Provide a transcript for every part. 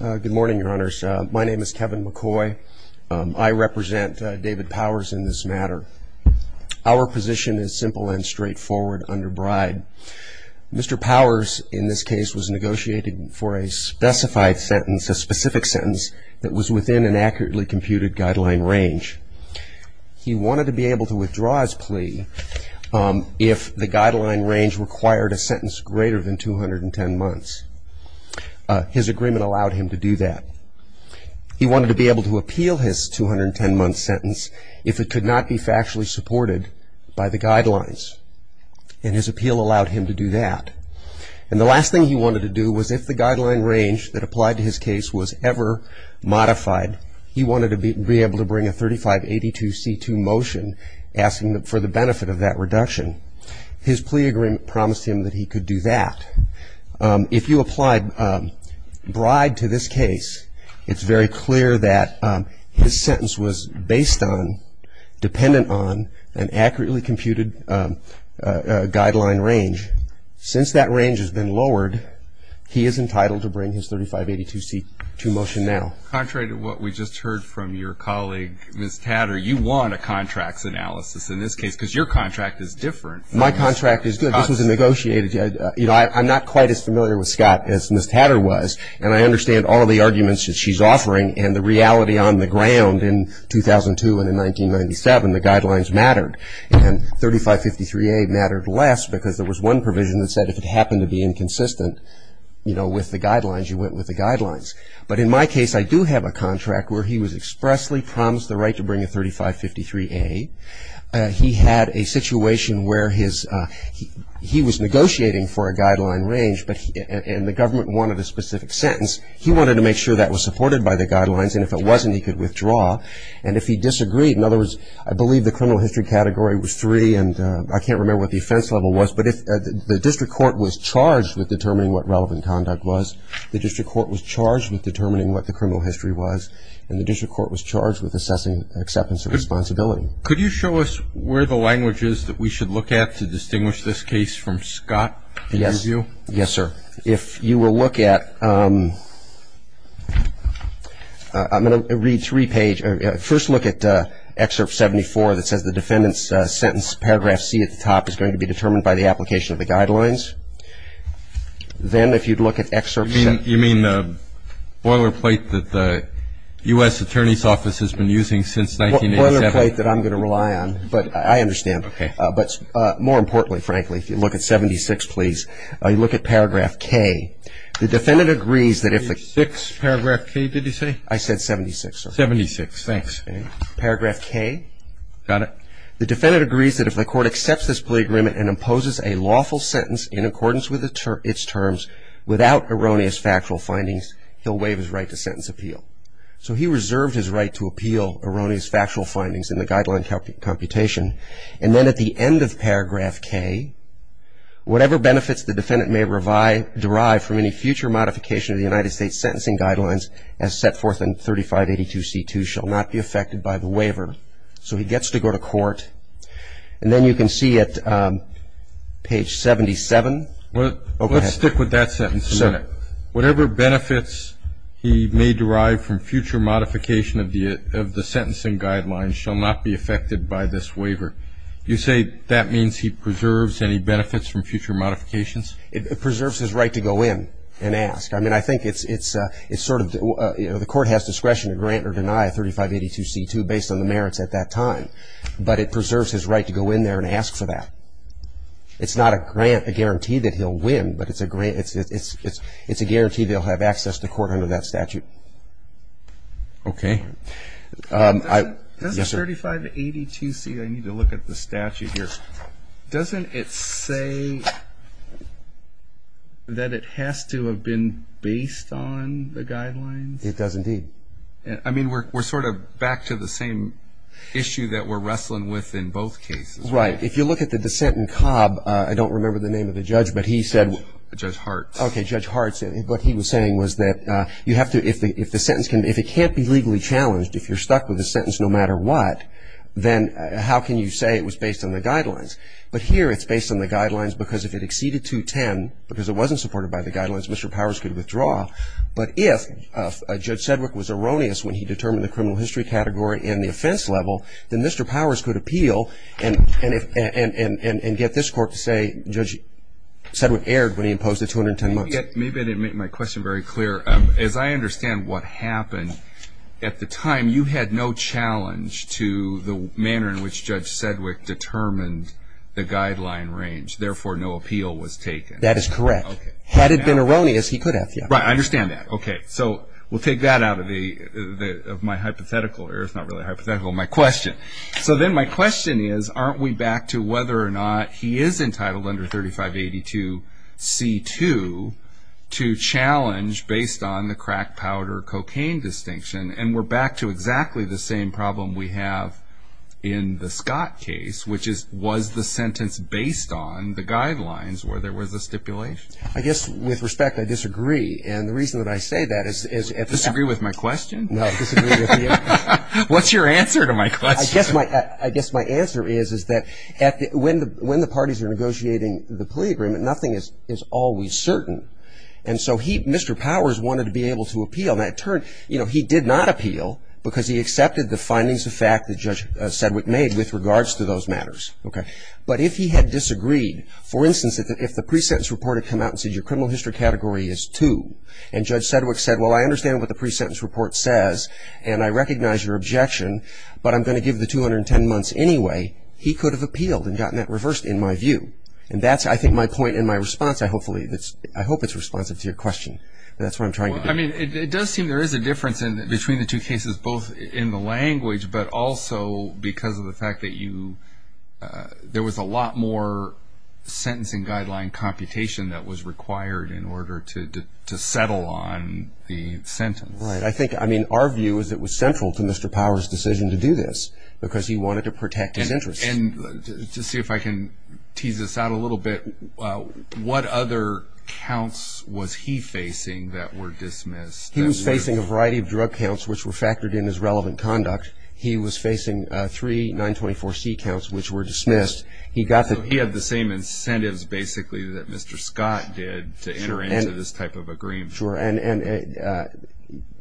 Good morning, your honors. My name is Kevin McCoy. I represent David Powers in this matter. Our position is simple and straightforward under bribe. Mr. Powers, in this case, was negotiating for a specified sentence, a specific sentence, that was within an accurately computed guideline range. He wanted to be able to withdraw his plea if the guideline range required a sentence greater than 210 months. His agreement allowed him to do that. He wanted to be able to appeal his 210-month sentence if it could not be factually supported by the guidelines, and his appeal allowed him to do that. And the last thing he wanted to do was if the guideline range that applied to his case was ever modified, he wanted to be able to bring a 3582C2 motion asking for the benefit of that reduction. His plea agreement promised him that he could do that. If you applied bribe to this case, it's very clear that his sentence was based on, dependent on, an accurately computed guideline range. Since that range has been lowered, he is entitled to bring his 3582C2 motion now. Mr. Powers Contrary to what we just heard from your colleague, Ms. Tatter, you want a contracts analysis in this case because your contract is different. Mr. Powers My contract is good. This was negotiated. You know, I'm not quite as familiar with Scott as Ms. Tatter was, and I understand all of the arguments that she's offering, and the reality on the ground in 2002 and in 1997, the guidelines mattered. And 3553A mattered less because there was one provision that said if it happened to be inconsistent, you know, with the guidelines, you went with the guidelines. But in my case, I do have a contract where he was expressly promised the right to bring a 3553A. He had a situation where he was negotiating for a guideline range, and the government wanted a specific sentence. He wanted to make sure that was supported by the guidelines, and if it wasn't, he could withdraw. And if he disagreed, in other words, I believe the criminal history category was three, and I can't remember what the offense level was, but the district court was charged with determining what relevant conduct was. The district court was charged with determining what the criminal history was, and the district court was charged with assessing acceptance of responsibility. Mr. Contrary Could you show us where the language is that we should look at to distinguish this case from Scott? Yes, sir. If you will look at ‑‑ I'm going to read three pages. First look at Excerpt 74 that says the defendant's sentence, paragraph C at the top, is going to be determined by the application of the guidelines. Then if you'd look at Excerpt ‑‑ You mean the boilerplate that the U.S. Attorney's Office has been using since 1987? The boilerplate that I'm going to rely on, but I understand. Okay. But more importantly, frankly, if you look at 76, please, look at paragraph K. The defendant agrees that if the ‑‑ 76, paragraph K, did you say? I said 76, sir. 76, thanks. Okay. Paragraph K. Got it. The defendant agrees that if the court accepts this plea agreement and imposes a lawful sentence in accordance with its terms without erroneous factual findings, he'll waive his right to sentence appeal. So he reserved his right to appeal erroneous factual findings in the guideline computation, and then at the end of paragraph K, whatever benefits the defendant may derive from any future modification of the United States sentencing guidelines as set forth in 3582C2 shall not be affected by the waiver. So he gets to go to court, and then you can see at page 77. Well, let's stick with that sentence a minute. Sir. Whatever benefits he may derive from future modification of the sentencing guidelines shall not be affected by this waiver. You say that means he preserves any benefits from future modifications? It preserves his right to go in and ask. I mean, I think it's sort of the court has discretion to grant or deny 3582C2 based on the merits at that time, but it preserves his right to go in there and ask for that. It's not a guarantee that he'll win, but it's a guarantee they'll have access to court under that statute. Okay. Does the 3582C, I need to look at the statute here, doesn't it say that it has to have been based on the guidelines? It does indeed. I mean, we're sort of back to the same issue that we're wrestling with in both cases. Right. If you look at the dissent in Cobb, I don't remember the name of the judge, but he said. Judge Hartz. Okay, Judge Hartz. What he was saying was that you have to, if the sentence can, if it can't be legally challenged, if you're stuck with a sentence no matter what, then how can you say it was based on the guidelines? But here it's based on the guidelines because if it exceeded 210, because it wasn't supported by the guidelines, Mr. Powers could withdraw. But if Judge Sedgwick was erroneous when he determined the criminal history category and the offense level, then Mr. Powers could appeal and get this court to say, Judge Sedgwick erred when he imposed the 210 months. Maybe I didn't make my question very clear. As I understand what happened at the time, you had no challenge to the manner in which Judge Sedgwick determined the guideline range. Therefore, no appeal was taken. That is correct. Had it been erroneous, he could have. Right. I understand that. Okay. So we'll take that out of my hypothetical, or it's not really a hypothetical, my question. So then my question is, aren't we back to whether or not he is entitled under 3582C2 to challenge based on the crack powder cocaine distinction? And we're back to exactly the same problem we have in the Scott case, which is was the sentence based on the guidelines where there was a stipulation? I guess with respect, I disagree. And the reason that I say that is at the time. Disagree with my question? No, disagree with you. What's your answer to my question? I guess my answer is that when the parties are negotiating the plea agreement, nothing is always certain. And so Mr. Powers wanted to be able to appeal. Now, in turn, he did not appeal because he accepted the findings of fact that Judge Sedgwick made with regards to those matters. But if he had disagreed, for instance, if the pre-sentence report had come out and said your criminal history category is 2, and Judge Sedgwick said, well, I understand what the pre-sentence report says, and I recognize your objection, but I'm going to give the 210 months anyway, he could have appealed and gotten that reversed in my view. And that's, I think, my point and my response. I hope it's responsive to your question. That's what I'm trying to get at. It does seem there is a difference between the two cases, both in the language, but also because of the fact that there was a lot more sentencing guideline computation that was required in order to settle on the sentence. Right. I think, I mean, our view is it was central to Mr. Powers' decision to do this because he wanted to protect his interests. And to see if I can tease this out a little bit, what other counts was he facing that were dismissed? He was facing a variety of drug counts which were factored in as relevant conduct. He was facing three 924C counts which were dismissed. So he had the same incentives, basically, that Mr. Scott did to enter into this type of agreement. Sure. And,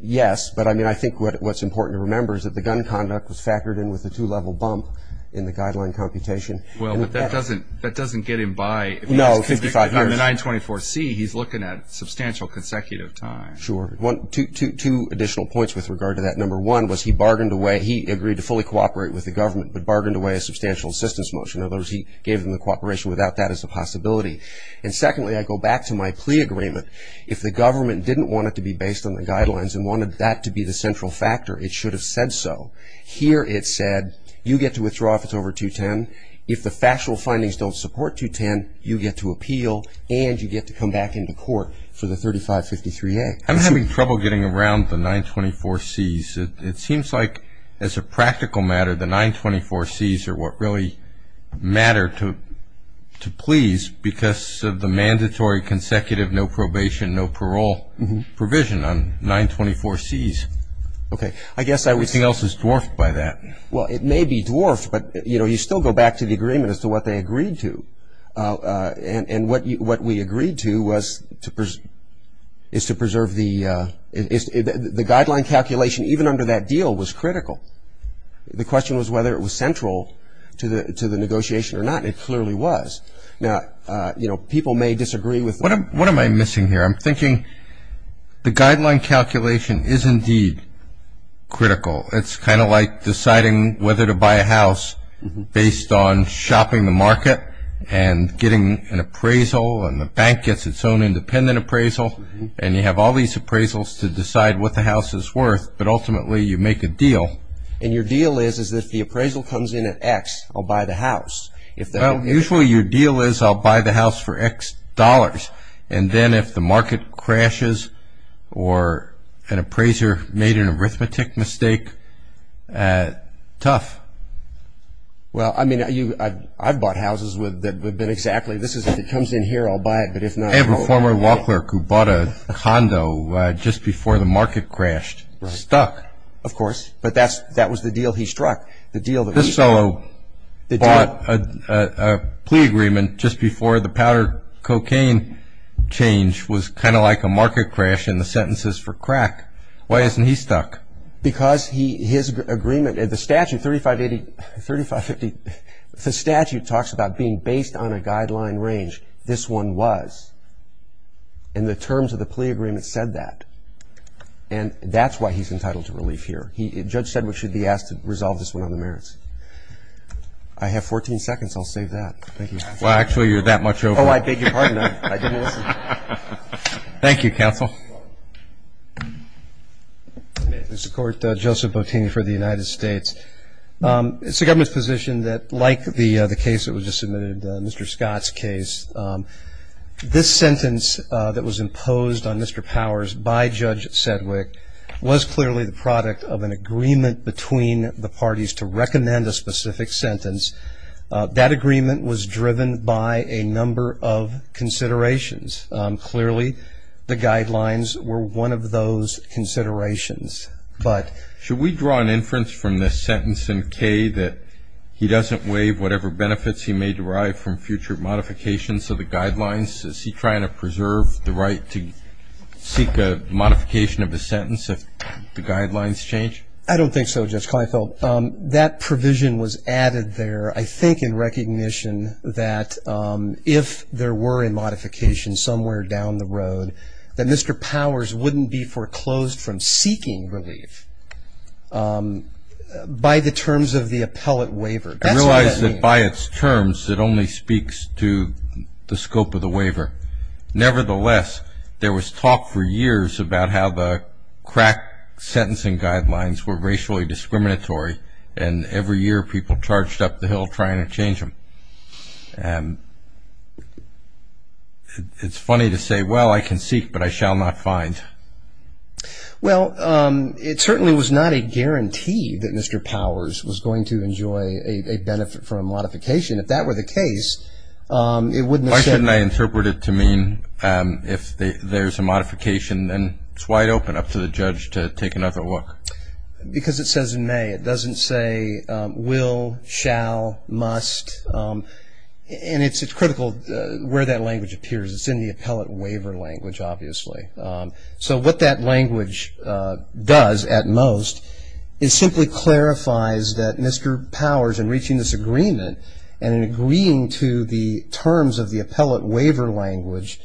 yes, but, I mean, I think what's important to remember is that the gun conduct was factored in with the two-level bump in the guideline computation. Well, but that doesn't get him by. No, 55 years. On the 924C, he's looking at a substantial consecutive time. Sure. Two additional points with regard to that. Number one was he bargained away, he agreed to fully cooperate with the government, but bargained away a substantial assistance motion. In other words, he gave them the cooperation without that as a possibility. And, secondly, I go back to my plea agreement. If the government didn't want it to be based on the guidelines and wanted that to be the central factor, it should have said so. Here it said, you get to withdraw if it's over 210. If the factual findings don't support 210, you get to appeal and you get to come back into court for the 3553A. I'm having trouble getting around the 924Cs. It seems like, as a practical matter, the 924Cs are what really matter to please because of the mandatory consecutive no probation, no parole provision on 924Cs. Okay. I guess I would say else is dwarfed by that. Well, it may be dwarfed, but, you know, you still go back to the agreement as to what they agreed to. And what we agreed to was to preserve the guideline calculation even under that deal was critical. The question was whether it was central to the negotiation or not, and it clearly was. Now, you know, people may disagree with that. What am I missing here? I'm thinking the guideline calculation is indeed critical. It's kind of like deciding whether to buy a house based on shopping the market and getting an appraisal and the bank gets its own independent appraisal, and you have all these appraisals to decide what the house is worth, but ultimately you make a deal. And your deal is that if the appraisal comes in at X, I'll buy the house. Well, usually your deal is I'll buy the house for X dollars, and then if the market crashes or an appraiser made an arithmetic mistake, tough. Well, I mean, I've bought houses that have been exactly this. If it comes in here, I'll buy it. I have a former law clerk who bought a condo just before the market crashed. Stuck. Of course. But that was the deal he struck. This fellow bought a plea agreement just before the powdered cocaine change was kind of like a market crash in the sentences for crack. Why isn't he stuck? Because his agreement, the statute, 3580, 3550, the statute talks about being based on a guideline range. This one was. And the terms of the plea agreement said that. And that's why he's entitled to relief here. Judge Sedgwick should be asked to resolve this one on the merits. I have 14 seconds. I'll save that. Thank you. Well, actually, you're that much over. Oh, I beg your pardon. I didn't listen. Thank you, counsel. Mr. Court, Joseph Bottini for the United States. It's the government's position that like the case that was just submitted, Mr. Scott's case, this sentence that was imposed on Mr. Powers by Judge Sedgwick was clearly the product of an agreement between the parties to recommend a specific sentence. That agreement was driven by a number of considerations. Clearly, the guidelines were one of those considerations. But should we draw an inference from this sentence in K that he doesn't waive whatever benefits he may derive from future modifications of the guidelines? Is he trying to preserve the right to seek a modification of the sentence if the guidelines change? I don't think so, Judge Kleinfeld. That provision was added there, I think, in recognition that if there were a modification somewhere down the road, that Mr. Powers wouldn't be foreclosed from seeking relief by the terms of the appellate waiver. I realize that by its terms, it only speaks to the scope of the waiver. Nevertheless, there was talk for years about how the crack sentencing guidelines were racially discriminatory, and every year people charged up the hill trying to change them. It's funny to say, well, I can seek, but I shall not find. Well, it certainly was not a guarantee that Mr. Powers was going to enjoy a benefit from a modification. If that were the case, it wouldn't have said that. Why shouldn't I interpret it to mean if there's a modification, then it's wide open up to the judge to take another look? Because it says may. It doesn't say will, shall, must. And it's critical where that language appears. It's in the appellate waiver language, obviously. So what that language does at most is simply clarifies that Mr. Powers, in reaching this agreement, and in agreeing to the terms of the appellate waiver language,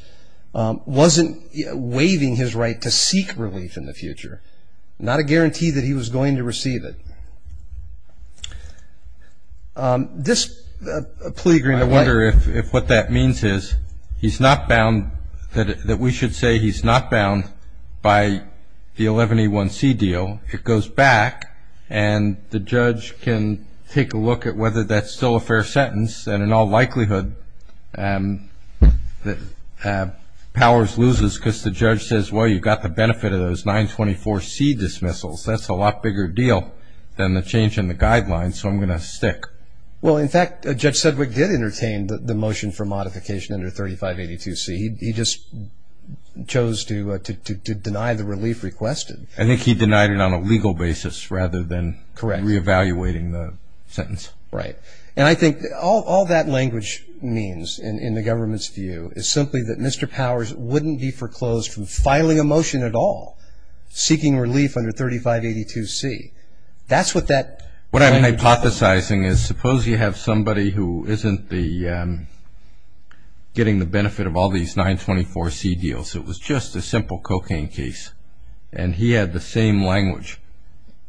wasn't waiving his right to seek relief in the future. Not a guarantee that he was going to receive it. This plea agreement. I wonder if what that means is he's not bound, that we should say he's not bound by the 11A1C deal. It goes back, and the judge can take a look at whether that's still a fair sentence, and in all likelihood Powers loses because the judge says, well, you got the benefit of those 924C dismissals. That's a lot bigger deal than the change in the guidelines, so I'm going to stick. Well, in fact, Judge Sedgwick did entertain the motion for modification under 3582C. He just chose to deny the relief requested. I think he denied it on a legal basis rather than reevaluating the sentence. Right. And I think all that language means in the government's view is simply that Mr. Powers wouldn't be foreclosed from filing a motion at all seeking relief under 3582C. That's what that language is. What I'm hypothesizing is suppose you have somebody who isn't getting the benefit of all these 924C deals. It was just a simple cocaine case, and he had the same language.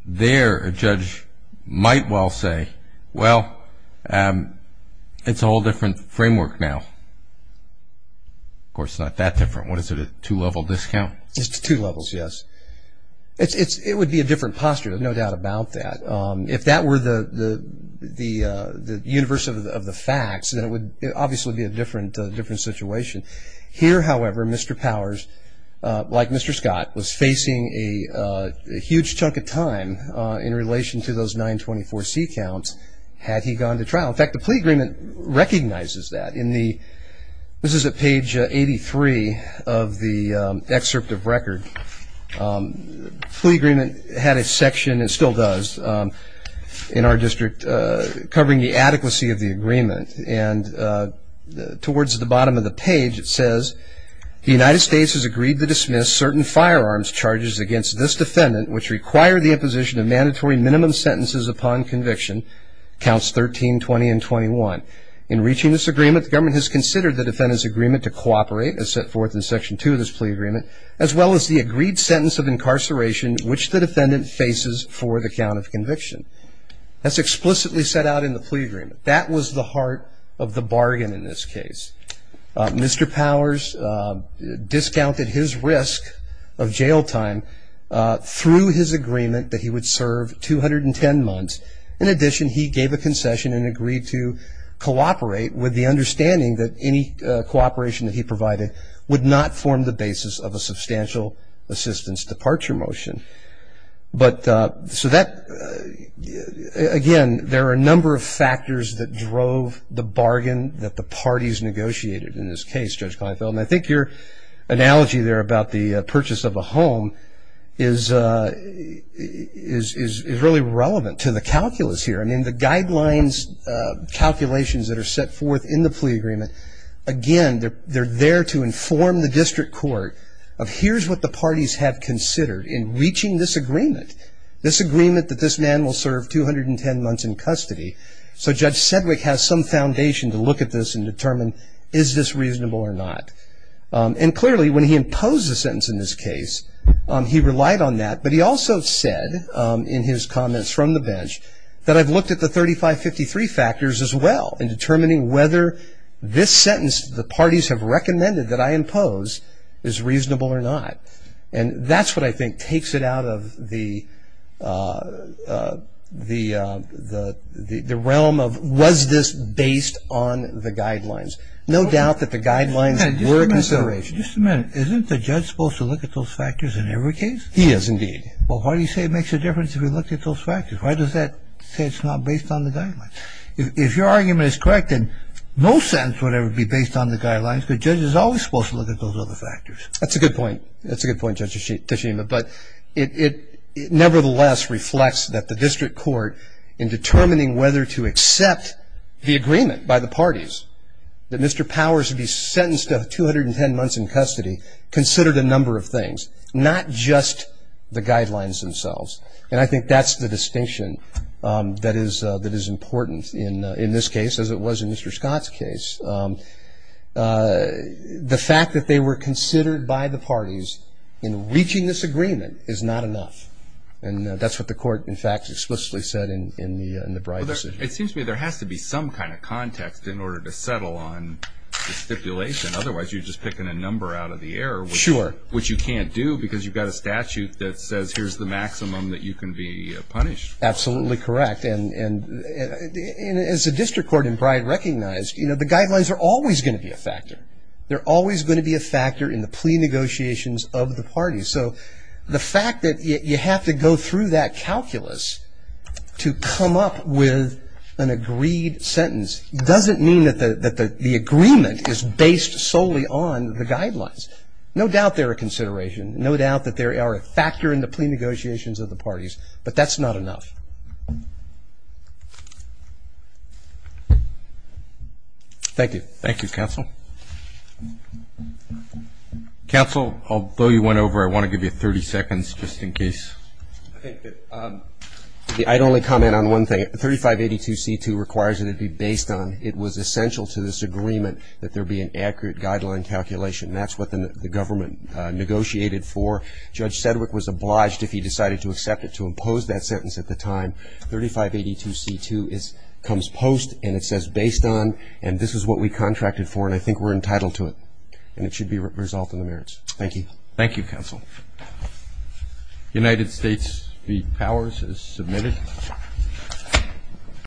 There a judge might well say, well, it's a whole different framework now. Of course, it's not that different. What is it, a two-level discount? It's two levels, yes. It would be a different posture, there's no doubt about that. If that were the universe of the facts, then it would obviously be a different situation. Here, however, Mr. Powers, like Mr. Scott, was facing a huge chunk of time in relation to those 924C counts had he gone to trial. In fact, the plea agreement recognizes that. This is at page 83 of the excerpt of record. The plea agreement had a section, it still does, in our district covering the adequacy of the agreement. And towards the bottom of the page, it says, the United States has agreed to dismiss certain firearms charges against this defendant, which require the imposition of mandatory minimum sentences upon conviction, counts 13, 20, and 21. In reaching this agreement, the government has considered the defendant's agreement to cooperate, as set forth in section 2 of this plea agreement, as well as the agreed sentence of incarceration, which the defendant faces for the count of conviction. That's explicitly set out in the plea agreement. That was the heart of the bargain in this case. Mr. Powers discounted his risk of jail time through his agreement that he would serve 210 months. In addition, he gave a concession and agreed to cooperate with the understanding that any cooperation that he provided would not form the basis of a substantial assistance departure motion. But so that, again, there are a number of factors that drove the bargain that the parties negotiated in this case, Judge Kleinfeld. And I think your analogy there about the purchase of a home is really relevant to the calculus here. I mean, the guidelines, calculations that are set forth in the plea agreement, again, they're there to inform the district court of here's what the parties have considered in reaching this agreement, this agreement that this man will serve 210 months in custody. So Judge Sedgwick has some foundation to look at this and determine is this reasonable or not. And clearly, when he imposed the sentence in this case, he relied on that. But he also said in his comments from the bench that I've looked at the 3553 factors as well in determining whether this sentence the parties have recommended that I impose is reasonable or not. And that's what I think takes it out of the realm of was this based on the guidelines. No doubt that the guidelines were a consideration. Just a minute. Isn't the judge supposed to look at those factors in every case? He is, indeed. Well, why do you say it makes a difference if he looked at those factors? Why does that say it's not based on the guidelines? If your argument is correct, then no sentence would ever be based on the guidelines because the judge is always supposed to look at those other factors. That's a good point. That's a good point, Judge Tashima. But it nevertheless reflects that the district court in determining whether to accept the agreement by the parties that Mr. Powers would be sentenced to 210 months in custody considered a number of things, not just the guidelines themselves. And I think that's the distinction that is important in this case as it was in Mr. Scott's case. The fact that they were considered by the parties in reaching this agreement is not enough. And that's what the court, in fact, explicitly said in the Breyer decision. It seems to me there has to be some kind of context in order to settle on the stipulation. Otherwise, you're just picking a number out of the air. Sure. Which you can't do because you've got a statute that says here's the maximum that you can be punished. Absolutely correct. And as the district court in Bride recognized, the guidelines are always going to be a factor. They're always going to be a factor in the plea negotiations of the parties. So the fact that you have to go through that calculus to come up with an agreed sentence doesn't mean that the agreement is based solely on the guidelines. No doubt they're a consideration. No doubt that they are a factor in the plea negotiations of the parties. But that's not enough. Thank you. Thank you, counsel. Counsel, although you went over, I want to give you 30 seconds just in case. I'd only comment on one thing. 3582C2 requires that it be based on it was essential to this agreement that there be an accurate guideline calculation. That's what the government negotiated for. Judge Sedgwick was obliged, if he decided to accept it, to impose that sentence at the time. 3582C2 comes post and it says based on and this is what we contracted for and I think we're entitled to it and it should be resolved in the merits. Thank you. Thank you, counsel. United States v. Powers is submitted.